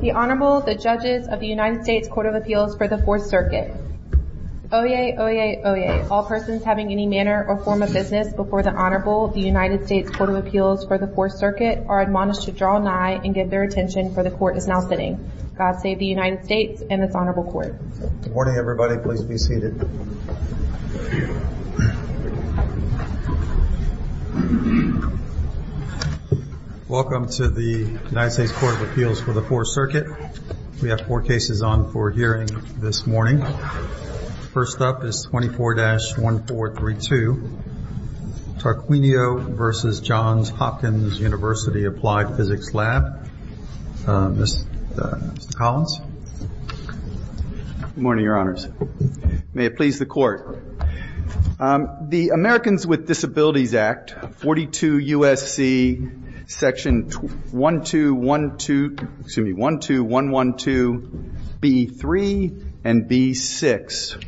The Honorable, the Judges of the United States Court of Appeals for the Fourth Circuit. Oye, oye, oye, all persons having any manner or form of business before the Honorable, the United States Court of Appeals for the Fourth Circuit are admonished to draw nigh and give their attention for the court is now sitting. God save the United States and this honorable court. Good morning everybody. Please be seated. Welcome to the United States Court of Appeals for the Fourth Circuit. We have four cases on for hearing this morning. First up is 24-1432 Tarquinio v. Johns Hopkins University Applied Physics Lab. Mr. Collins. Good morning, your honors. May it please the court. The Americans with Disabilities Act, 42 U.S.C., section 1212112B3 and B6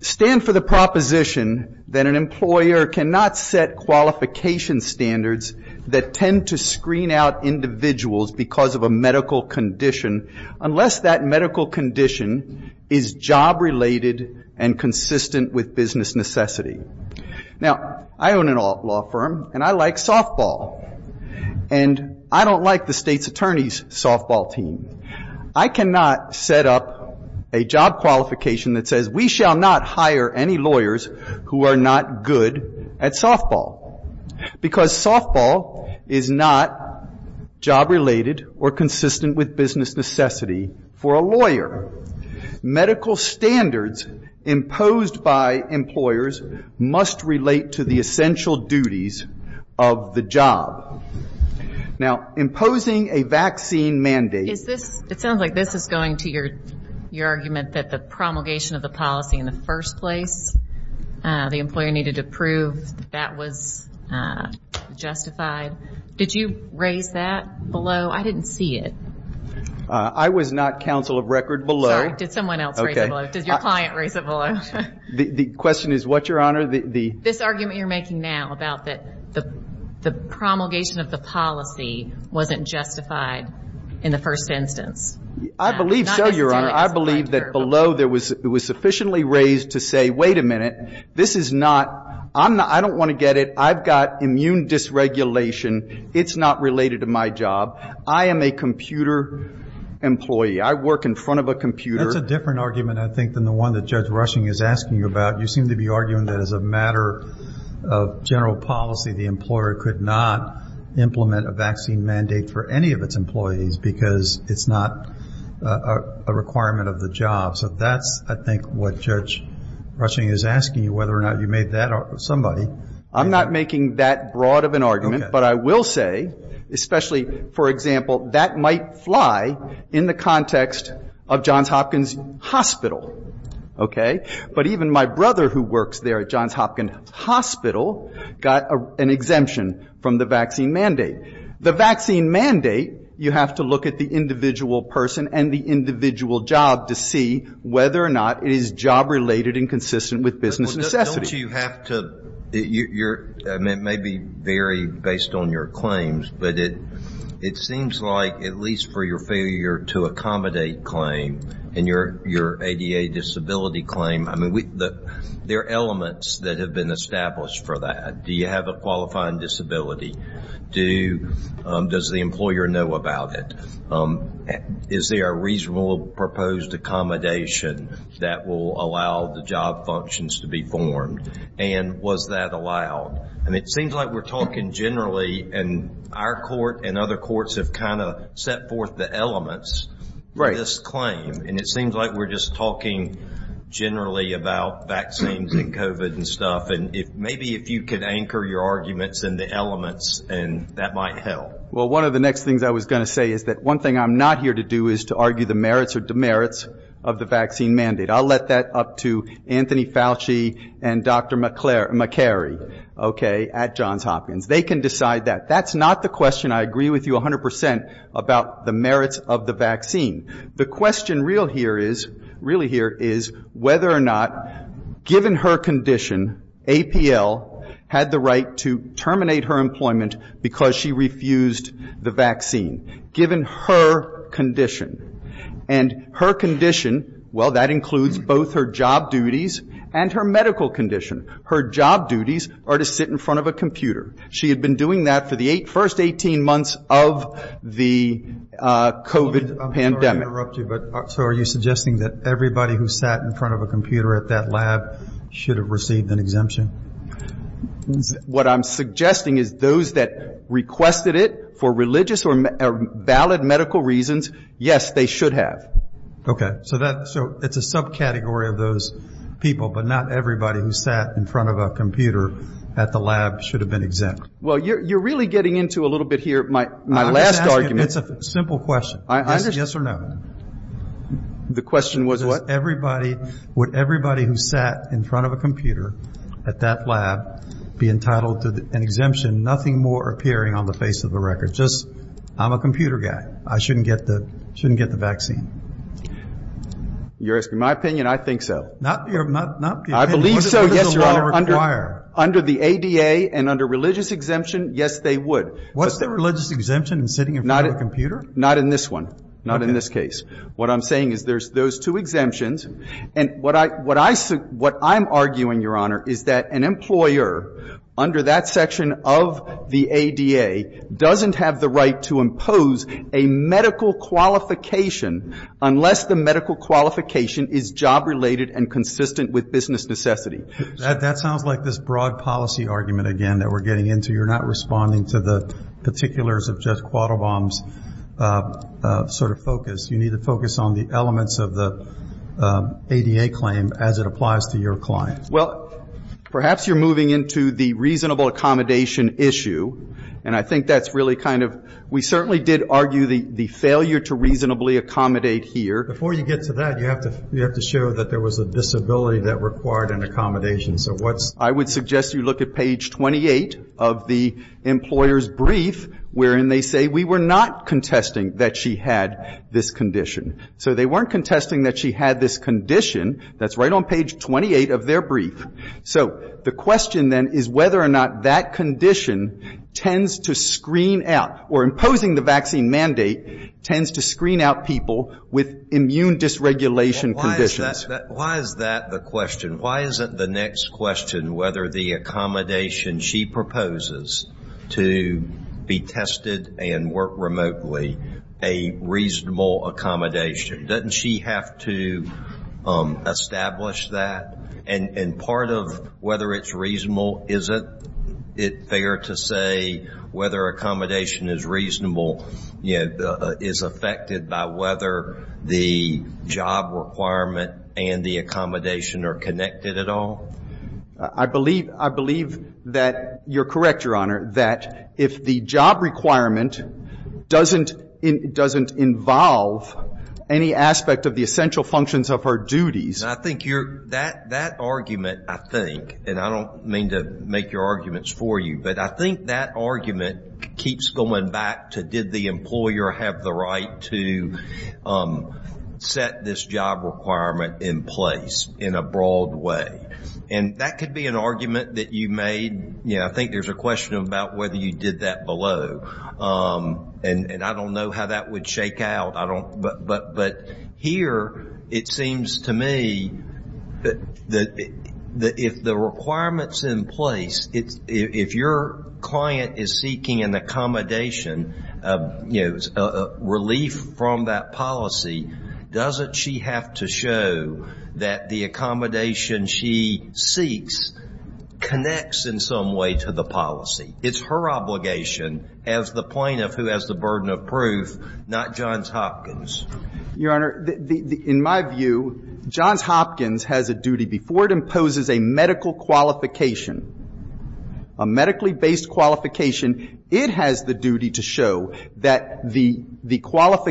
stand for the proposition that an employer cannot set qualification standards that tend to screen out individuals because of a medical condition unless that medical condition is job related and consistent with business necessity. Now, I own a law firm and I like softball. And I don't like the state's attorney's softball team. I cannot set up a job qualification that says we shall not hire any lawyers who are not good at softball because softball is not job related or consistent with business necessity for a lawyer. Medical standards imposed by employers must relate to the essential duties of the job. Now, imposing a vaccine mandate. It sounds like this is going to your argument that the promulgation of the policy in the first place, the employer needed to prove that that was justified. Did you raise that below? I didn't see it. I was not counsel of record below. Sorry. Did someone else raise it below? Did your client raise it below? The question is what, your honor? This argument you're making now about that the promulgation of the policy wasn't justified in the first instance. I believe so, your honor. I believe that below there was sufficiently raised to say, wait a minute, this is not I don't want to get it. I've got immune dysregulation. It's not related to my job. I am a computer employee. I work in front of a computer. That's a different argument, I think, than the one that Judge Rushing is asking you about. You seem to be arguing that as a matter of general policy, the employer could not implement a vaccine mandate for any of its employees because it's not a requirement of the job. So that's, I think, what Judge Rushing is asking you, whether or not you made that or somebody. I'm not making that broad of an argument, but I will say, especially, for example, that might fly in the context of Johns Hopkins Hospital. Okay. But even my brother who works there at Johns Hopkins Hospital got an exemption from the vaccine mandate. The vaccine mandate, you have to look at the individual person and the individual job to see whether or not it is job related and consistent with business necessity. It may vary based on your claims, but it seems like, at least for your failure to accommodate claim and your ADA disability claim, there are elements that have been established for that. Do you have a reasonable proposed accommodation that will allow the job functions to be formed? And was that allowed? And it seems like we're talking generally, and our court and other courts have kind of set forth the elements for this claim. And it seems like we're just talking generally about vaccines and COVID and stuff. And maybe if you could anchor your arguments in the elements, that might help. Well, one of the next things I was going to say is that one thing I'm not here to do is to argue the merits or demerits of the vaccine mandate. I'll let that up to Anthony Fauci and Dr. McCary at Johns Hopkins. They can decide that. That's not the question I agree with you 100 percent about the merits of the vaccine. The question real here is whether or not, given her condition, APL had the right to terminate her employment because she refused the vaccine, given her condition and her condition. Well, that includes both her job duties and her medical condition. Her job duties are to sit in front of a computer. She had been doing that for the first 18 months of the COVID pandemic. So are you suggesting that everybody who sat in front of a computer at that lab should have received an exemption? What I'm suggesting is those that requested it for religious or valid medical reasons, yes, they should have. Okay. So it's a subcategory of those people, but not everybody who sat in front of a computer at the lab should have been exempt. Well, you're really getting into a little bit here my last argument. It's a simple question. Yes or no? The question was what? Would everybody who sat in front of a computer at that lab be entitled to an exemption, nothing more appearing on the face of the record? Just, I'm a computer guy. I shouldn't get the vaccine. You're asking my opinion? I think so. I believe so, yes, Your Honor. Under the ADA and under religious exemption, yes, they would. What's the religious exemption in sitting in front of a computer? Not in this one. Not in this case. What I'm saying is there's those two exemptions. And what I'm arguing, Your Honor, is that an employer under that section of the ADA doesn't have the right to impose a medical qualification unless the medical qualification is job-related and consistent with business necessity. That sounds like this broad policy argument again that we're getting into. You're not responding to the particulars of Judge Quattlebaum's sort of focus. You need to focus on the elements of the ADA claim as it applies to your client. Well, perhaps you're moving into the reasonable accommodation issue. And I think that's really kind of, we certainly did argue the failure to reasonably accommodate here. Before you get to that, you have to show that there was a disability that required an accommodation. I would suggest you look at page 28 of the employer's brief wherein they say we were not contesting that she had this condition. So they weren't contesting that she had this condition. That's right on page 28 of their brief. So the question then is whether or not that condition tends to screen out, or imposing the vaccine mandate, tends to screen out people with immune dysregulation conditions. Why is that the question? Why isn't the next question whether the accommodation she proposes to be tested and work remotely, a reasonable accommodation? Doesn't she have to establish that? And part of whether it's reasonable, isn't it fair to say whether accommodation is reasonable, you know, is affected by whether the job requirement and the accommodation are connected at all? I believe, I believe that you're correct, Your Honor, that if the job requirement doesn't involve any aspect of the essential functions of her duties. I think that argument, I think, and I don't mean to make your arguments for you, but I think that argument keeps going back to did the employer have the right to set this job requirement in place in a broad way. And that could be an argument that you made, you know, I think there's a question about whether you did that below. And I don't know how that would shake out. But here it seems to me that if the requirement's in place, if your client is seeking an accommodation, you know, a relief from that policy, doesn't she have to show that the accommodation she seeks connects in some way to the policy? It's her obligation as the plaintiff who has the burden of proof, not Johns Hopkins. Your Honor, in my view, Johns Hopkins has a duty, before it imposes a medical qualification, a medically based qualification, it has the duty to show that the job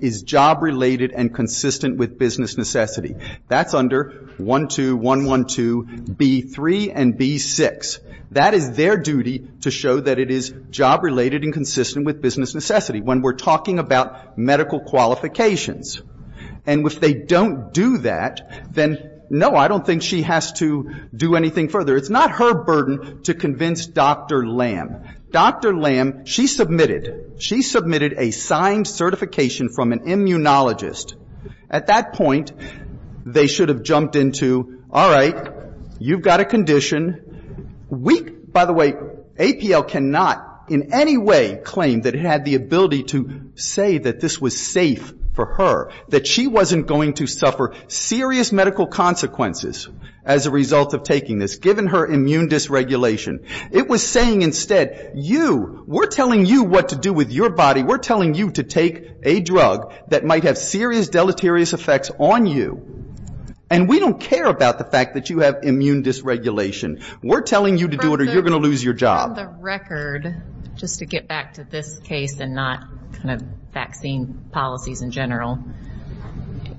is job related and consistent with business necessity. That's under 12112B3 and B6. That is their duty to show that it is job related and consistent with business necessity when we're talking about medical qualifications. And if they don't do that, then, no, I don't think she has to do anything further. It's not her burden to convince Dr. Lamb. Dr. Lamb, she submitted, she submitted a signed certification from an immunologist. At that point, they should have jumped into, all right, you've got a condition. We, by the way, APL cannot in any way claim that it had the ability to say that this was safe for her, that she wasn't going to suffer serious medical consequences as a result of taking this, given her immune dysregulation. It was saying instead, you, we're telling you what to do with your body. We're telling you to take a drug that might have serious deleterious effects on you. And we don't care about the fact that you have immune dysregulation. We're telling you to do it or you're going to lose your job. On the record, just to get back to this case and not kind of vaccine policies in general,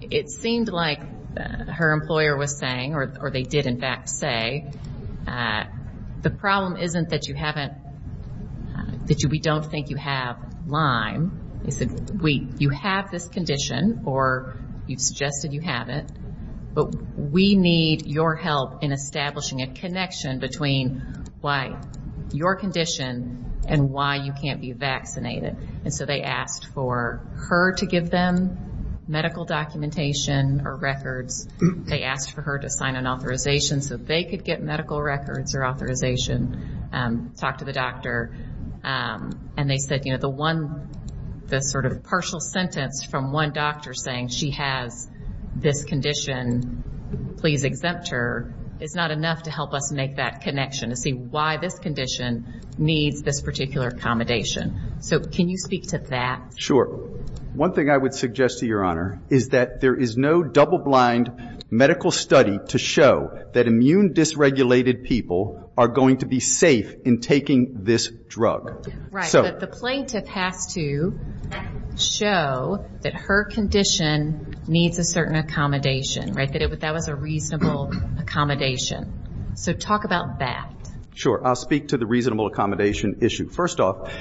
it seemed like her employer was saying, the problem isn't that you haven't, that we don't think you have Lyme. They said, you have this condition or you've suggested you have it, but we need your help in establishing a connection between why your condition and why you can't be vaccinated. And so they asked for her to give them medical documentation or records. They asked for her to sign an authorization so they could get medical records or authorization, talk to the doctor. And they said, you know, the one, the sort of partial sentence from one doctor saying she has this condition, please exempt her, is not enough to help us make that connection to see why this condition needs this particular accommodation. So can you speak to that? Sure. One thing I would suggest to your Honor is that there is no double blind medical study to show that immune dysregulated people are going to be safe in taking this drug. The plaintiff has to show that her condition needs a certain accommodation, right? That was a reasonable accommodation. So talk about that. Sure. I'll speak to the reasonable accommodation issue. First off,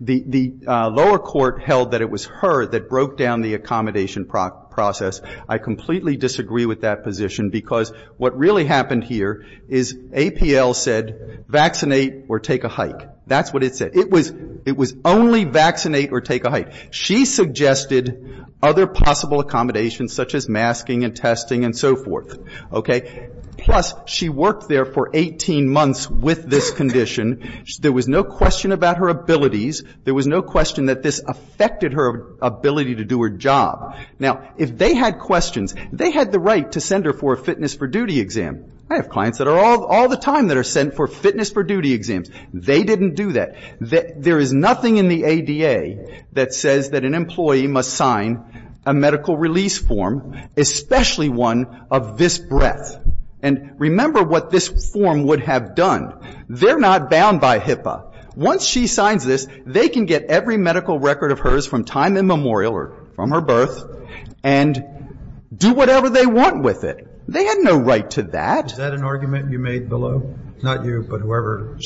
the lower court held that it was her that broke down the accommodation process. I completely disagree with that position, because what really happened here is APL said vaccinate or take a hike. That's what it said. It was only vaccinate or take a hike. She suggested other possible accommodations such as masking and testing and so forth. Okay? Plus she worked there for 18 months with this condition. There was no question about her abilities. There was no question that this affected her ability to do her job. Now, if they had questions, they had the right to send her for a fitness for duty exam. I have clients that are all the time that are sent for fitness for duty exams. They didn't do that. There is nothing in the ADA that says that an employee must sign a medical release form, especially one of visceral and remember what this form would have done. They're not bound by HIPAA. Once she signs this, they can get every medical record of hers from time immemorial or from her birth and do whatever they want with it. They had no right to that. Is that an argument you made below? Not you, but whoever.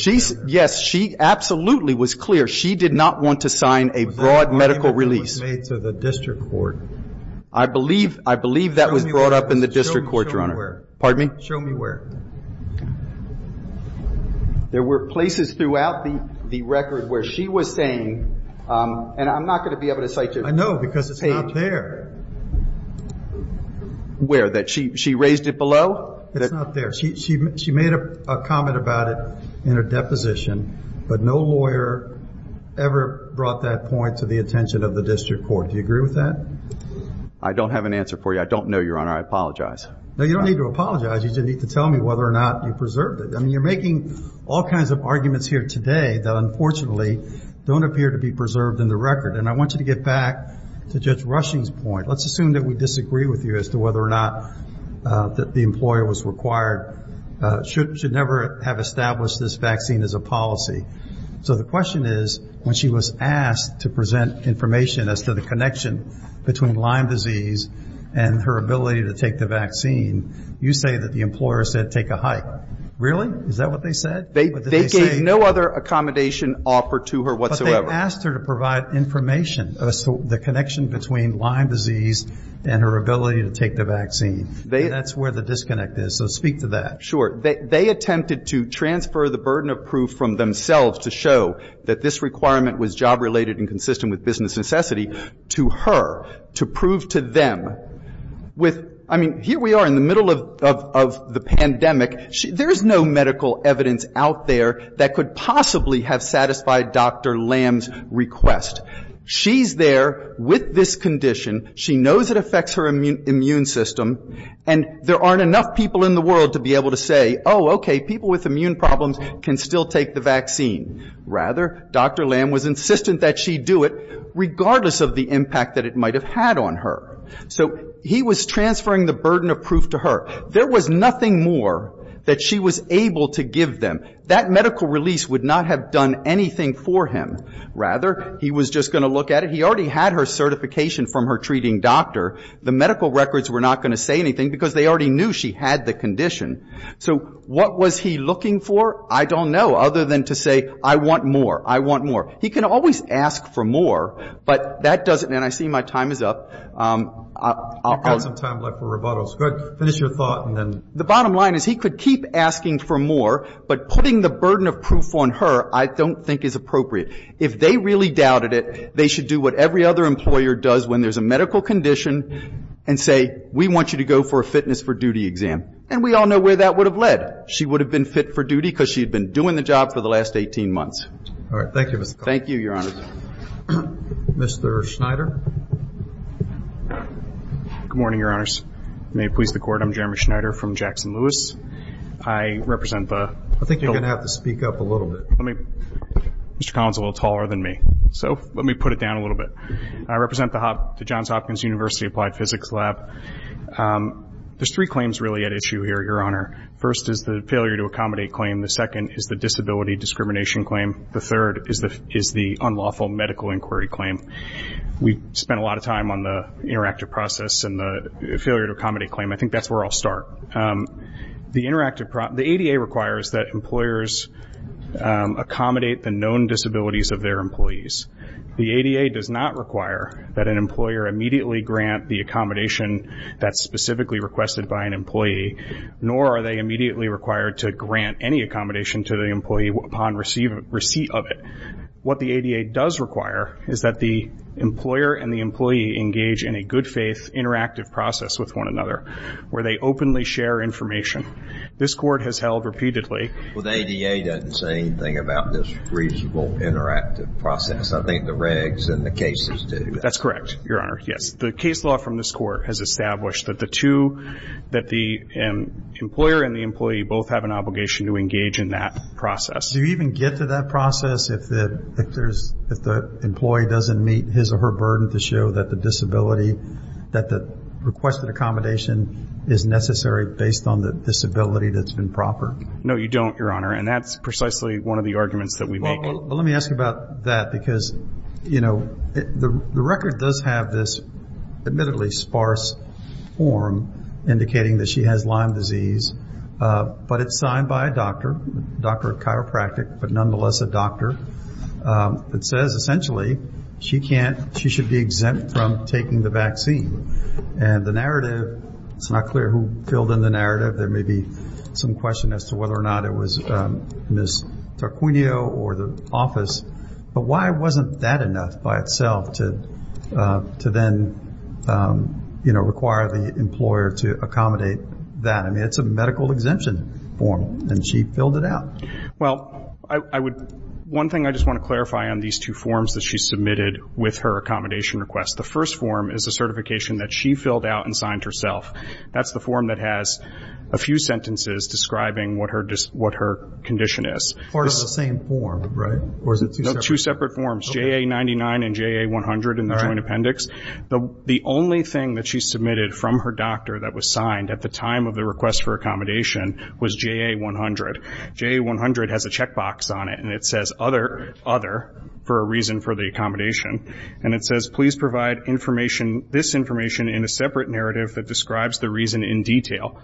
Yes. She absolutely was clear. She did not want to sign a broad medical release. That was made to the district court. I believe that was brought up in the district court, Your Honor. Show me where. There were places throughout the record where she was saying, and I'm not going to be able to cite you. I know, because it's not there. Where? She raised it below? It's not there. She made a comment about it in her deposition, but no lawyer ever brought that point to the attention of the district court. Do you agree with that? I don't have an answer for you. I don't know, Your Honor. I apologize. No, you don't need to apologize. You just need to tell me whether or not you preserved it. I mean, you're making all kinds of arguments here today that, unfortunately, don't appear to be preserved in the record. And I want you to get back to Judge Rushing's point. Let's assume that we disagree with you as to whether or not the employer was required, should never have established this vaccine as a policy. So the question is, when she was asked to present information as to the connection between Lyme disease and her ability to take the vaccine, you say that the employer said take a hike. Really? Is that what they said? They gave no other accommodation offer to her whatsoever. But they asked her to provide information as to the connection between Lyme disease and her ability to take the vaccine. And that's where the disconnect is. So speak to that. Sure. They attempted to transfer the burden of proof from themselves to show that this requirement was job-related and consistent with business necessity to her, to prove to them. I mean, here we are in the middle of the pandemic. There's no medical evidence out there that could possibly have satisfied Dr. Lamb's request. She's there with this condition. She knows it affects her immune system. And there aren't enough people in the world to be able to say, oh, okay, people with immune problems can still take the vaccine. Rather, Dr. Lamb was insistent that she do it, regardless of the impact that it might have had on her. So he was transferring the burden of proof to her. There was nothing more that she was able to give them. That medical release would not have done anything for him. Rather, he was just going to look at it. He already had her certification from her treating doctor. The medical records were not going to say anything, because they already knew she had the condition. So what was he looking for? I don't know, other than to say, I want more, I want more. He can always ask for more, but that doesn't and I see my time is up. I've got some time left for rebuttals. Go ahead, finish your thought. The bottom line is, he could keep asking for more, but putting the burden of proof on her, I don't think is appropriate. If they really doubted it, they should do what every other employer does when there's a medical condition and say, we want you to go for a fitness for duty exam. And we all know where that would have led. She would have been fit for duty because she had been doing the job for the last 18 months. Thank you, Mr. Connolly. Mr. Schneider. Good morning, Your Honors. May it please the Court, I'm Jeremy Schneider from Jackson Lewis. I represent the- I think you're going to have to speak up a little bit. Mr. Connolly is a little taller than me, so let me put it down a little bit. I represent the Johns Hopkins University Applied Physics Lab. There's three claims really at issue here, Your Honor. First is the failure to accommodate claim. The second is the disability discrimination claim. The third is the unlawful medical inquiry claim. We spent a lot of time on the interactive process and the failure to accommodate claim. I think that's where I'll start. The ADA requires that employers accommodate the known disabilities of their employees. The ADA does not require that an employer immediately grant the accommodation that's specifically requested by an employee, nor are they immediately required to grant any accommodation to the employee upon receipt of it. What the ADA does require is that the employer and the employee engage in a good-faith interactive process with one another where they openly share information. This Court has held repeatedly- Well, the ADA doesn't say anything about this reasonable interactive process. I think the regs and the cases do. That's correct, Your Honor, yes. The case law from this Court has established that the two, that the employer and the employee both have an obligation to engage in that process. Do you even get to that process if the employee doesn't meet his or her burden to show that the disability, that the requested accommodation is necessary based on the disability that's been proffered? No, you don't, Your Honor, and that's precisely one of the arguments that we make. Well, let me ask you about that because, you know, the record does have this admittedly sparse form indicating that she has Lyme disease, but it's signed by a doctor, a doctor of chiropractic, but nonetheless a doctor, that says essentially she can't, she should be exempt from taking the vaccine. And the narrative, it's not clear who filled in the narrative. There may be some question as to whether or not it was Ms. Tarquinio or the office, but why wasn't that enough by itself to then, you know, require the employer to accommodate that? I mean, it's a medical exemption form, and she filled it out. Well, I would, one thing I just want to clarify on these two forms that she submitted with her accommodation request. The first form is a certification that she filled out and signed herself. That's the form that has a few sentences describing what her condition is. Part of the same form, right? No, two separate forms, JA-99 and JA-100 in the joint appendix. The only thing that she submitted from her doctor that was signed at the time of the request for accommodation was JA-100. JA-100 has a checkbox on it, and it says other, other, for a reason for the accommodation. And it says, please provide information, this information in a separate narrative that describes the reason in detail.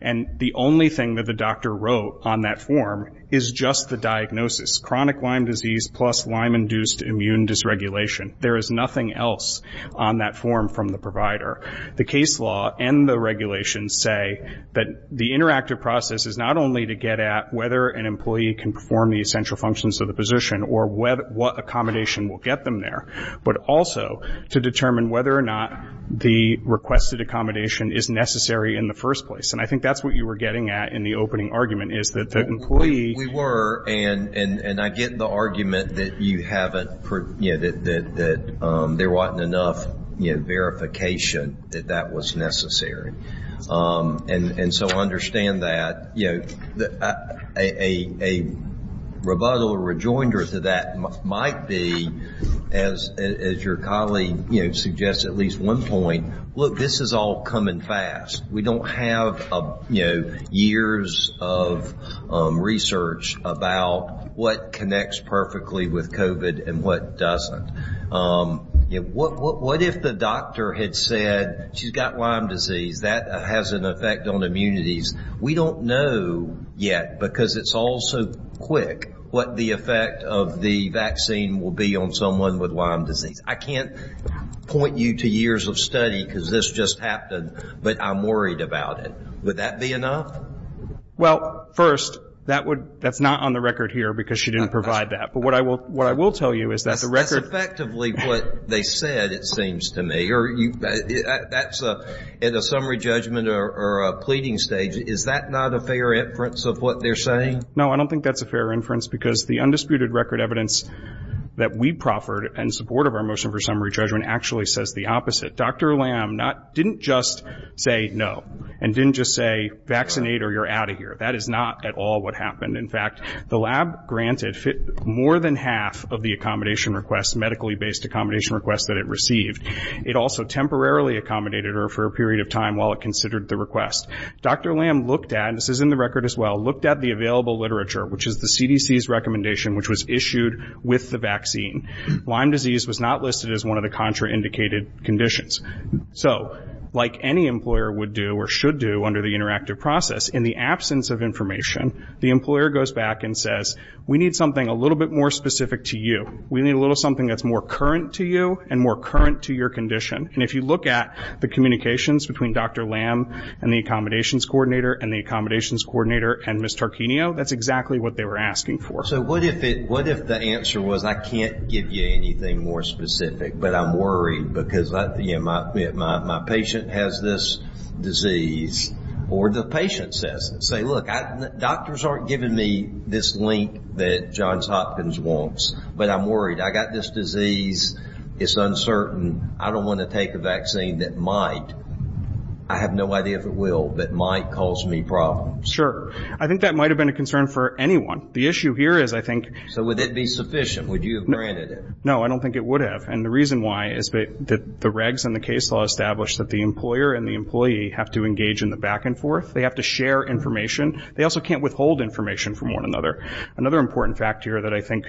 And the only thing that the doctor wrote on that form is just the diagnosis, chronic Lyme disease plus Lyme-induced immune dysregulation. There is nothing else on that form from the provider. The case law and the regulations say that the interactive process is not only to get at whether an employee can perform the essential functions of the position or what accommodation will get them there, but also to determine whether or not the requested accommodation is necessary in the first place. And I think that's what you were getting at in the opening argument is that the employee. We were, and I get the argument that you haven't, you know, that there wasn't enough, you know, verification that that was necessary. And so I understand that, you know, a rebuttal or rejoinder to that might be, as your colleague, you know, suggests at least one point, look, this is all coming fast. We don't have, you know, years of research about what connects perfectly with COVID and what doesn't. What if the doctor had said she's got Lyme disease, that has an effect on immunities? We don't know yet, because it's all so quick, what the effect of the vaccine will be on someone with Lyme disease. I can't point you to years of study, because this just happened, but I'm worried about it. Would that be enough? Well, first, that would, that's not on the record here, because she didn't provide that. But what I will tell you is that the record. That's effectively what they said, it seems to me. That's in a summary judgment or a pleading stage. Is that not a fair inference of what they're saying? No, I don't think that's a fair inference, because the undisputed record evidence that we proffered in support of our motion for summary judgment actually says the opposite. Dr. Lamb didn't just say no and didn't just say vaccinate or you're out of here. That is not at all what happened. In fact, the lab granted more than half of the accommodation requests, medically-based accommodation requests that it received. It also temporarily accommodated her for a period of time while it considered the request. Dr. Lamb looked at, and this is in the record as well, looked at the available literature, which is the CDC's recommendation, which was issued with the vaccine. Lyme disease was not listed as one of the contraindicated conditions. So, like any employer would do or should do under the interactive process, in the absence of information, the employer goes back and says, we need something a little bit more specific to you. We need a little something that's more current to you and more current to your condition. And if you look at the communications between Dr. Lamb and the accommodations coordinator and Ms. Tarquinio, that's exactly what they were asking for. So, what if the answer was, I can't give you anything more specific, but I'm worried because my patient has this disease, or the patient says it. Say, look, doctors aren't giving me this link that Johns Hopkins wants, but I'm worried. I've got this disease. It's uncertain. I don't want to take a vaccine that might. I have no idea if it will, but might cause me problems. Sure. I think that might have been a concern for anyone. The issue here is, I think. So, would that be sufficient? Would you have granted it? No, I don't think it would have. And the reason why is that the regs and the case law establish that the employer and the employee have to engage in the back and forth. They have to share information. They also can't withhold information from one another. Another important fact here that I think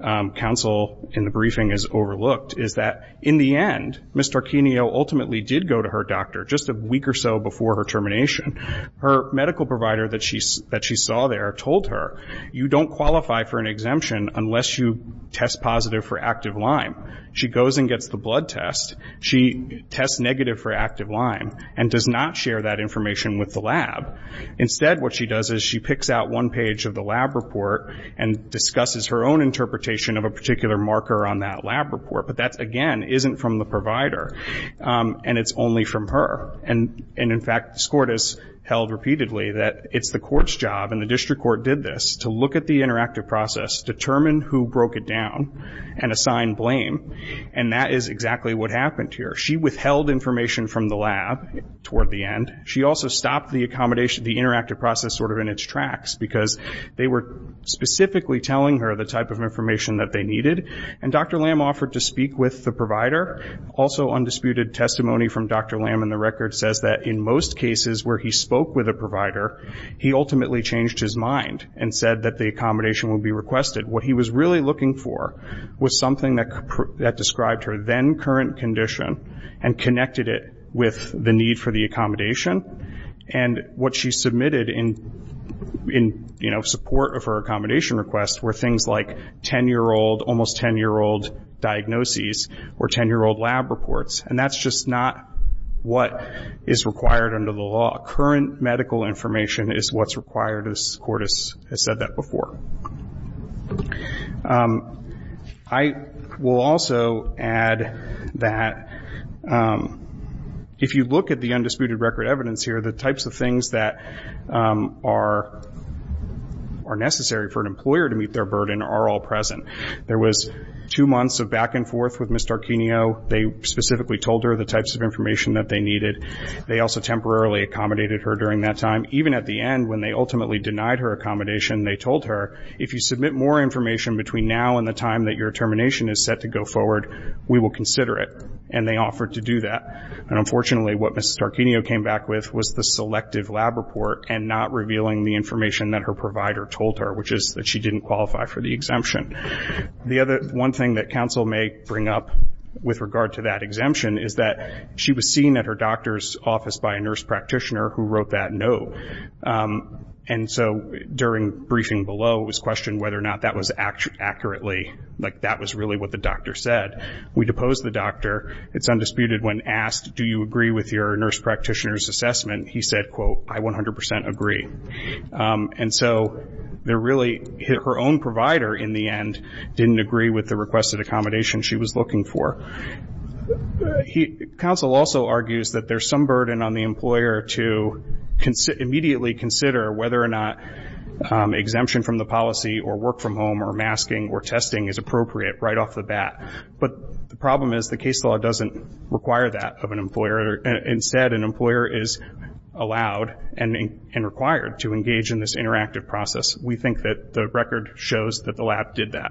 counsel in the briefing has overlooked is that, in the end, Ms. Tarquinio ultimately did go to her doctor just a week or so before her termination. Her medical provider that she saw there told her, you don't qualify for an exemption unless you test positive for active Lyme. She goes and gets the blood test. She tests negative for active Lyme and does not share that information with the lab. Instead, what she does is she picks out one page of the lab report and discusses her own interpretation of a particular marker on that lab report. But that, again, isn't from the provider, and it's only from her. And, in fact, this court has held repeatedly that it's the court's job, and the district court did this, to look at the interactive process, determine who broke it down, and assign blame. And that is exactly what happened here. She withheld information from the lab toward the end. She also stopped the accommodation, the interactive process sort of in its tracks because they were specifically telling her the type of information that they needed. And Dr. Lam offered to speak with the provider. Also undisputed testimony from Dr. Lam in the record says that in most cases where he spoke with a provider, he ultimately changed his mind and said that the accommodation would be requested. What he was really looking for was something that described her then current condition and connected it with the need for the accommodation. And what she submitted in support of her accommodation request were things like 10-year-old, almost 10-year-old diagnoses or 10-year-old lab reports. And that's just not what is required under the law. Current medical information is what's required, as the court has said that before. I will also add that if you look at the undisputed record evidence here, the types of things that are necessary for an employer to meet their burden are all present. There was two months of back and forth with Ms. Starkenio. They specifically told her the types of information that they needed. They also temporarily accommodated her during that time. Even at the end when they ultimately denied her accommodation, they told her, if you submit more information between now and the time that your termination is set to go forward, we will consider it. And they offered to do that. And unfortunately, what Ms. Starkenio came back with was the selective lab report and not revealing the information that her provider told her, which is that she didn't qualify for the exemption. The other one thing that counsel may bring up with regard to that exemption is that she was seen at her doctor's office by a nurse practitioner who wrote that no. And so during briefing below, it was questioned whether or not that was accurately, like that was really what the doctor said. We deposed the doctor. It's undisputed when asked, do you agree with your nurse practitioner's assessment, he said, quote, I 100% agree. And so her own provider, in the end, didn't agree with the requested accommodation she was looking for. Counsel also argues that there's some burden on the employer to immediately consider whether or not exemption from the policy or work from home or masking or testing is appropriate right off the bat. But the problem is the case law doesn't require that of an employer. Instead, an employer is allowed and required to engage in this interactive process. We think that the record shows that the lab did that.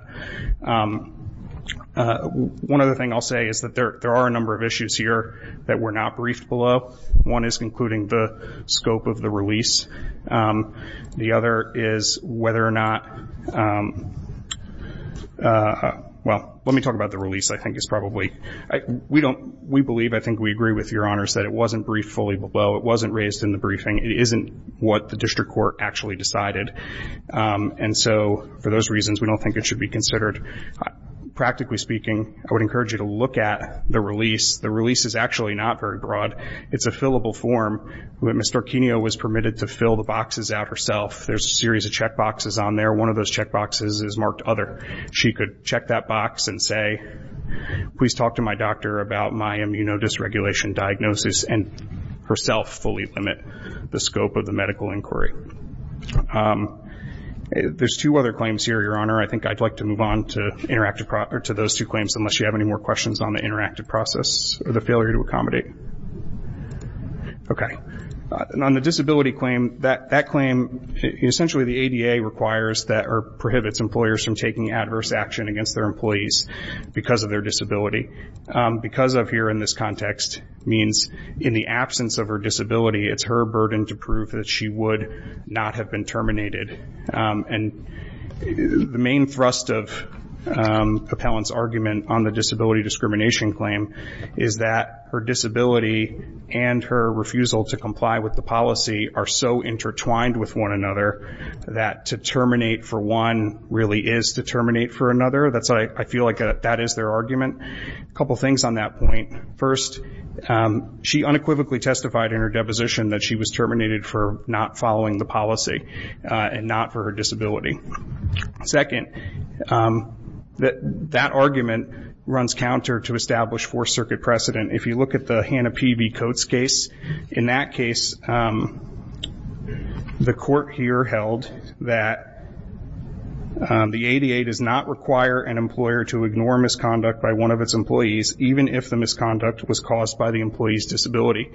One other thing I'll say is that there are a number of issues here that were not briefed below. One is including the scope of the release. The other is whether or not, well, let me talk about the release. I think it's probably, we believe, I think we agree with your honors, that it wasn't briefed fully below. It wasn't raised in the briefing. It isn't what the district court actually decided. And so for those reasons, we don't think it should be considered. Practically speaking, I would encourage you to look at the release. The release is actually not very broad. It's a fillable form. Ms. Storkinio was permitted to fill the boxes out herself. There's a series of checkboxes on there. One of those checkboxes is marked Other. She could check that box and say, please talk to my doctor about my immunodysregulation diagnosis and herself fully limit the scope of the medical inquiry. There's two other claims here, Your Honor. I think I'd like to move on to those two claims unless you have any more questions on the interactive process or the failure to accommodate. Okay. On the disability claim, that claim, essentially the ADA requires or prohibits employers from taking adverse action against their employees because of their disability. Because of here in this context means in the absence of her disability, it's her burden to prove that she would not have been terminated. And the main thrust of Appellant's argument on the disability discrimination claim is that her disability and her refusal to comply with the policy are so intertwined with one another that to terminate for one really is to terminate for another. I feel like that is their argument. A couple things on that point. First, she unequivocally testified in her deposition that she was terminated for not following the policy and not for her disability. Second, that argument runs counter to established Fourth Circuit precedent. If you look at the Hannah P.V. Coates case, in that case the court here held that the ADA does not require an employer to ignore misconduct by one of its employees, even if the misconduct was caused by the employee's disability.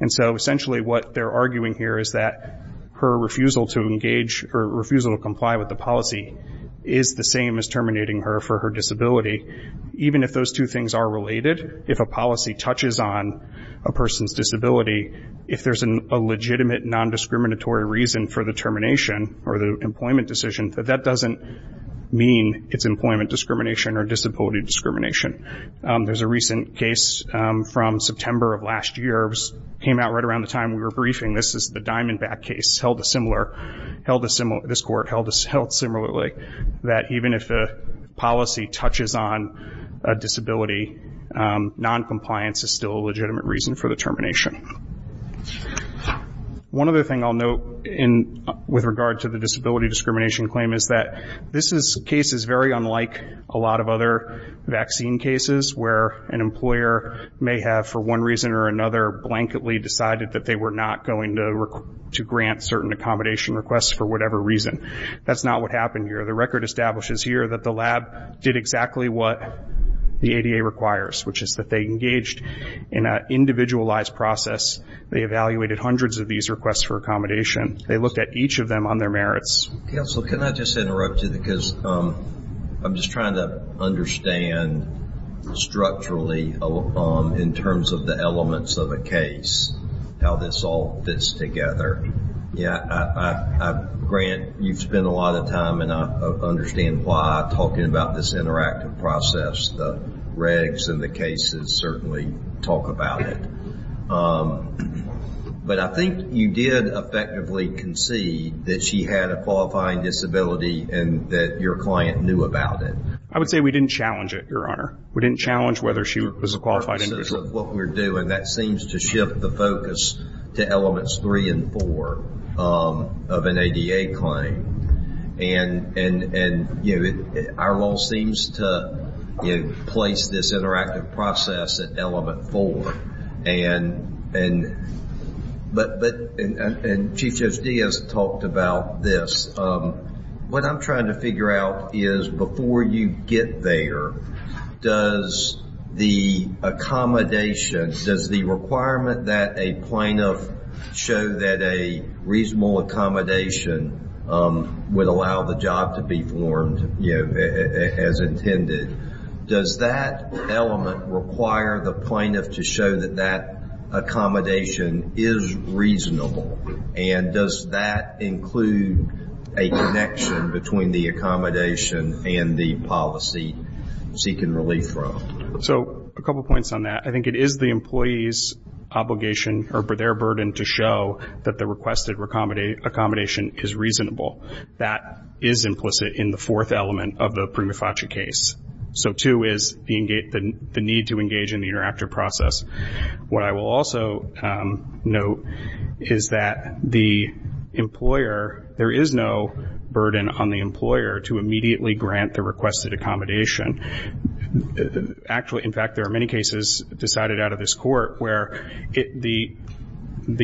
And so essentially what they're arguing here is that her refusal to engage or refusal to comply with the policy is the same as terminating her for her disability, even if those two things are related. If a policy touches on a person's disability, if there's a legitimate nondiscriminatory reason for the termination or the employment decision, that that doesn't mean it's employment discrimination or disability discrimination. There's a recent case from September of last year. It came out right around the time we were briefing. This is the Diamondback case. This court held similarly that even if a policy touches on a disability, noncompliance is still a legitimate reason for the termination. One other thing I'll note with regard to the disability discrimination claim is that this case is very unlike a lot of other vaccine cases where an employer may have, for one reason or another, blankedly decided that they were not going to grant certain accommodation requests for whatever reason. That's not what happened here. The record establishes here that the lab did exactly what the ADA requires, which is that they engaged in an individualized process. They evaluated hundreds of these requests for accommodation. They looked at each of them on their merits. Counsel, can I just interrupt you? I'm just trying to understand structurally, in terms of the elements of a case, how this all fits together. Grant, you've spent a lot of time, and I understand why I'm talking about this interactive process. The regs and the cases certainly talk about it. But I think you did effectively concede that she had a qualifying disability and that your client knew about it. I would say we didn't challenge it, Your Honor. We didn't challenge whether she was a qualified individual. In terms of what we're doing, that seems to shift the focus to elements three and four of an ADA claim. And our law seems to place this interactive process at element four. And Chief Judge Diaz talked about this. What I'm trying to figure out is before you get there, does the accommodation, does the requirement that a plaintiff show that a reasonable accommodation would allow the job to be formed as intended, does that element require the plaintiff to show that that accommodation is reasonable? And does that include a connection between the accommodation and the policy seeking relief from? So a couple points on that. I think it is the employee's obligation or their burden to show that the requested accommodation is reasonable. That is implicit in the fourth element of the prima facie case. So, two, is the need to engage in the interactive process. What I will also note is that the employer, there is no burden on the employer to immediately grant the requested accommodation. Actually, in fact, there are many cases decided out of this court where the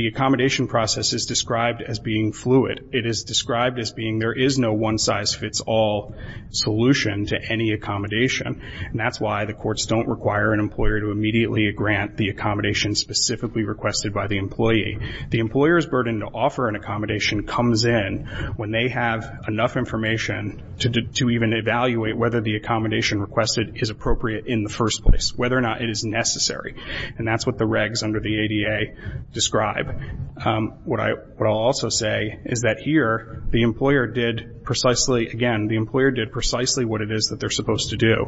accommodation process is described as being fluid. It is described as being there is no one-size-fits-all solution to any accommodation. And that is why the courts don't require an employer to immediately grant the accommodation specifically requested by the employee. The employer's burden to offer an accommodation comes in when they have enough information to even evaluate whether the accommodation requested is appropriate in the first place, whether or not it is necessary. And that is what the regs under the ADA describe. What I will also say is that here the employer did precisely, again, the employer did precisely what it is that they are supposed to do.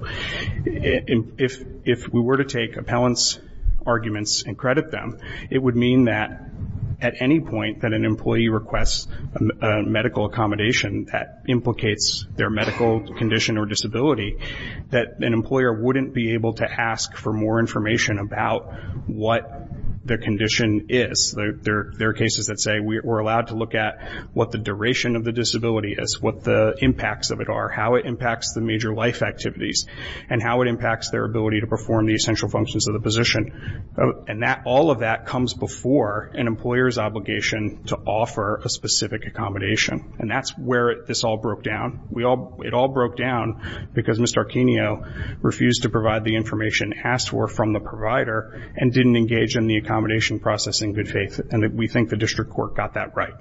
If we were to take appellant's arguments and credit them, it would mean that at any point that an employee requests a medical accommodation that implicates their medical condition or disability, that an employer wouldn't be able to ask for more information about what their condition is. There are cases that say we are allowed to look at what the duration of the disability is, what the impacts of it are, how it impacts the major life activities, and how it impacts their ability to perform the essential functions of the position. And all of that comes before an employer's obligation to offer a specific accommodation. And that is where this all broke down. It all broke down because Mr. Arquino refused to provide the information asked for from the provider and didn't engage in the accommodation process in good faith. And we think the district court got that right.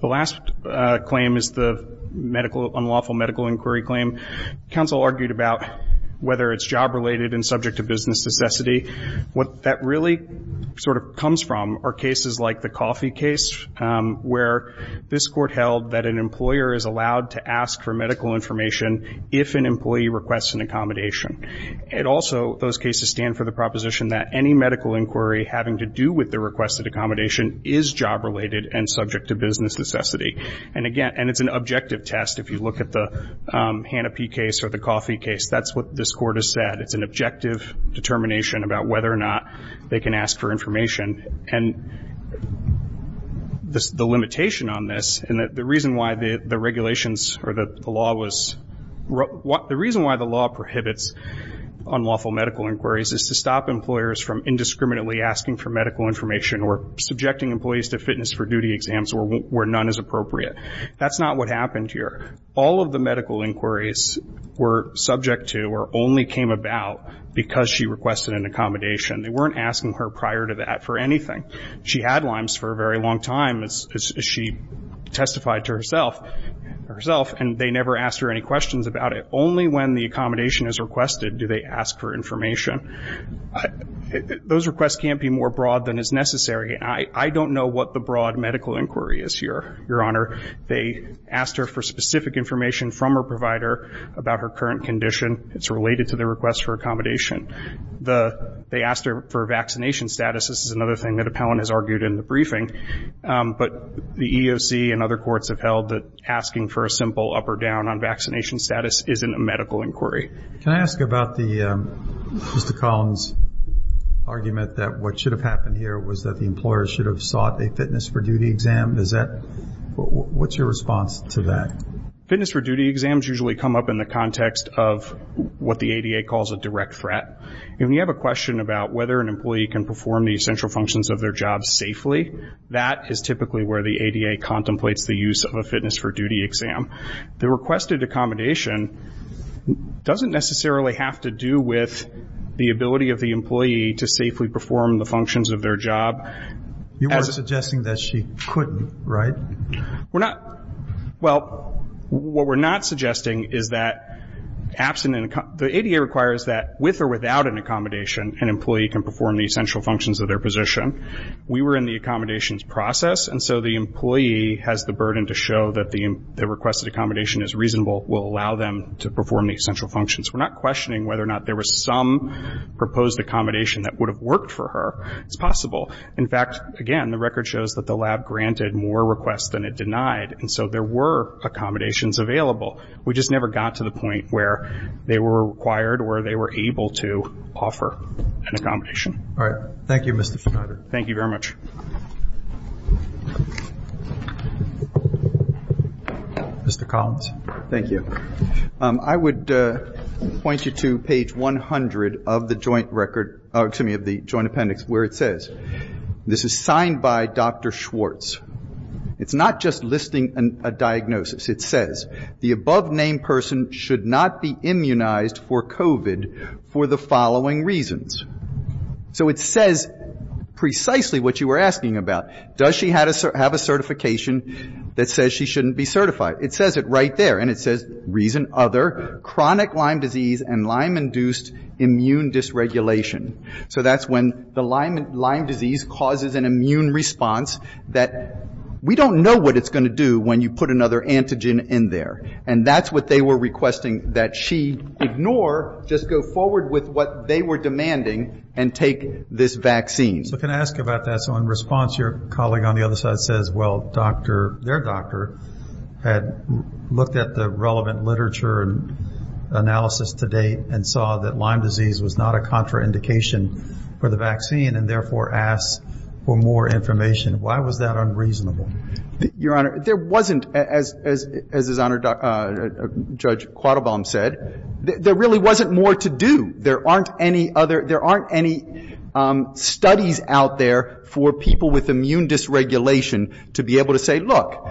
The last claim is the unlawful medical inquiry claim. Counsel argued about whether it's job related and subject to business necessity. What that really sort of comes from are cases like the coffee case, where this court held that an employer is allowed to ask for medical information if an employee requests an accommodation. Also, those cases stand for the proposition that any medical inquiry having to do with the requested accommodation is job related and subject to business necessity. And again, it's an objective test if you look at the Hanna P case or the coffee case. That's what this court has said. It's an objective determination about whether or not they can ask for information. And the limitation on this and the reason why the regulations or the law was the reason why the law prohibits unlawful medical inquiries is to stop employers from indiscriminately asking for medical information or subjecting employees to fitness for duty exams where none is appropriate. That's not what happened here. All of the medical inquiries were subject to or only came about because she requested an accommodation. They weren't asking her prior to that for anything. She had Lyme's for a very long time, as she testified to herself, and they never asked her any questions about it. Only when the accommodation is requested do they ask for information. Those requests can't be more broad than is necessary. I don't know what the broad medical inquiry is here, Your Honor. They asked her for specific information from her provider about her current condition. It's related to the request for accommodation. They asked her for vaccination status. This is another thing that appellant has argued in the briefing. But the EEOC and other courts have held that asking for a simple up or down on vaccination status isn't a medical inquiry. Can I ask about Mr. Collins' argument that what should have happened here was that the employer should have sought a fitness for duty exam? What's your response to that? Fitness for duty exams usually come up in the context of what the ADA calls a direct threat. When you have a question about whether an employee can perform the essential functions of their job safely, that is typically where the ADA contemplates the use of a fitness for duty exam. The requested accommodation doesn't necessarily have to do with the ability of the employee to safely perform the functions of their job. You were suggesting that she couldn't, right? Well, what we're not suggesting is that the ADA requires that with or without an accommodation, an employee can perform the essential functions of their position. We were in the accommodations process, and so the employee has the burden to show that the requested accommodation is reasonable, will allow them to perform the essential functions. We're not questioning whether or not there was some proposed accommodation that would have worked for her. It's possible. In fact, again, the record shows that the lab granted more requests than it denied, and so there were accommodations available. We just never got to the point where they were required or they were able to offer an accommodation. All right. Thank you, Mr. Fickotter. Thank you very much. Mr. Collins. Thank you. I would point you to page 100 of the joint record, excuse me, of the joint appendix, where it says, this is signed by Dr. Schwartz. It's not just listing a diagnosis. It says, the above-named person should not be immunized for COVID for the following reasons. So it says precisely what you were asking about. Does she have a certification that says she shouldn't be certified? It says it right there. And it says, reason other, chronic Lyme disease and Lyme-induced immune dysregulation. So that's when the Lyme disease causes an immune response that we don't know what it's going to do when you put another antigen in there. And that's what they were requesting that she ignore, just go forward with what they were demanding and take this vaccine. So can I ask you about that? So in response, your colleague on the other side says, well, doctor, their doctor had looked at the relevant literature and analysis to date and saw that Lyme disease was not a contraindication for the vaccine and therefore asked for more information. Why was that unreasonable? Your Honor, there wasn't, as Judge Quattlebaum said, there really wasn't more to do. There aren't any other, there aren't any studies out there for people with immune dysregulation to be able to say, look,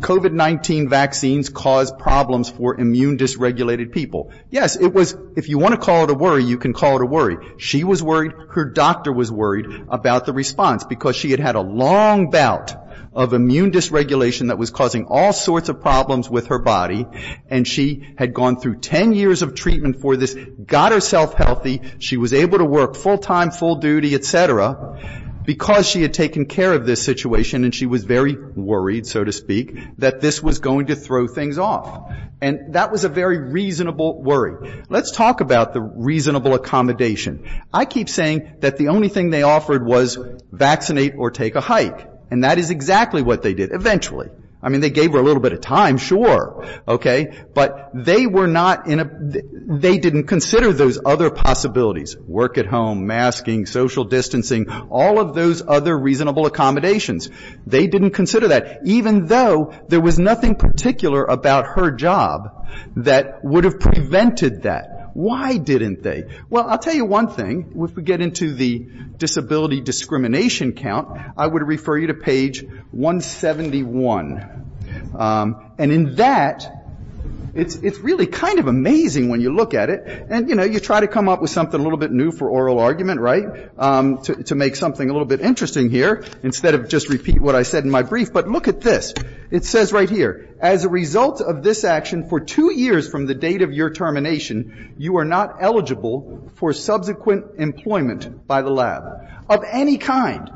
COVID-19 vaccines cause problems for immune dysregulated people. Yes, it was, if you want to call it a worry, you can call it a worry. She was worried, her doctor was worried about the response because she had had a long bout of immune dysregulation that was causing all sorts of problems with her body and she had gone through 10 years of treatment for this, got herself healthy, she was able to work full time, full duty, et cetera, because she had taken care of this situation and she was very worried, so to speak, that this was going to throw things off. And that was a very reasonable worry. Let's talk about the reasonable accommodation. I keep saying that the only thing they offered was vaccinate or take a hike, and that is exactly what they did, eventually. I mean, they gave her a little bit of time, sure, okay? But they were not in a, they didn't consider those other possibilities, work at home, masking, social distancing, all of those other reasonable accommodations. They didn't consider that, even though there was nothing particular about her job that would have prevented that. Why didn't they? Well, I'll tell you one thing. If we get into the disability discrimination count, I would refer you to page 171. And in that, it's really kind of amazing when you look at it, and, you know, you try to come up with something a little bit new for oral argument, right, to make something a little bit interesting here, instead of just repeat what I said in my brief. But look at this. It says right here, as a result of this action, for two years from the date of your termination, you are not eligible for subsequent employment by the lab of any kind,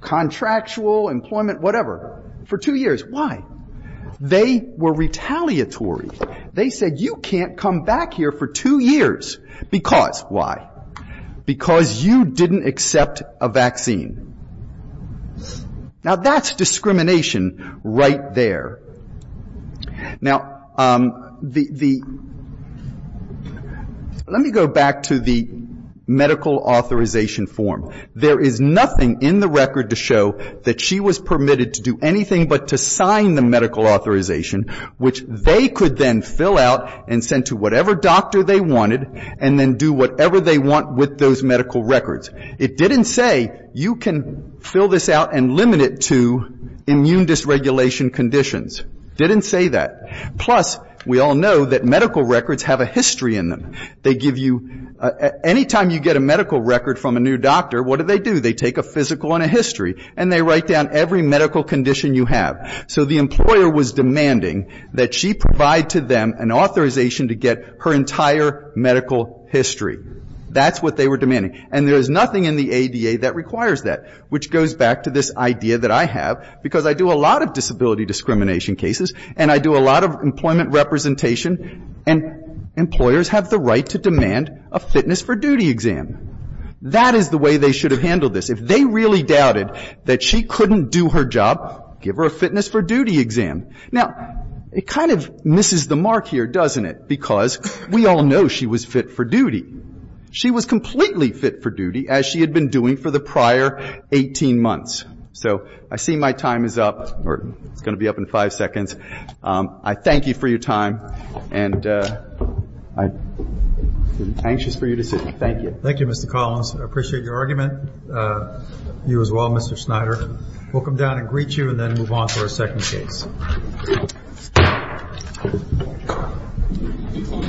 contractual, employment, whatever, for two years. Why? They were retaliatory. They said, you can't come back here for two years because, why? Because you didn't accept a vaccine. Now, that's discrimination right there. Now, the — let me go back to the medical authorization form. There is nothing in the record to show that she was permitted to do anything but to sign the medical authorization, which they could then fill out and send to whatever doctor they wanted, and then do whatever they want with those medical records. It didn't say, you can fill this out and limit it to immune dysregulation conditions. It didn't say that. Plus, we all know that medical records have a history in them. They give you — anytime you get a medical record from a new doctor, what do they do? They take a physical and a history, and they write down every medical condition you have. So the employer was demanding that she provide to them an authorization to get her entire medical history. That's what they were demanding, and there is nothing in the ADA that requires that, which goes back to this idea that I have, because I do a lot of disability discrimination cases, and I do a lot of employment representation, and employers have the right to demand a fitness for duty exam. That is the way they should have handled this. If they really doubted that she couldn't do her job, give her a fitness for duty exam. Now, it kind of misses the mark here, doesn't it, because we all know she was fit for duty. She was completely fit for duty, as she had been doing for the prior 18 months. So I see my time is up, or it's going to be up in five seconds. I thank you for your time, and I'm anxious for you to sit. Thank you. Thank you, Mr. Collins. I appreciate your argument. You as well, Mr. Snyder. We'll come down and greet you, and then move on to our second case.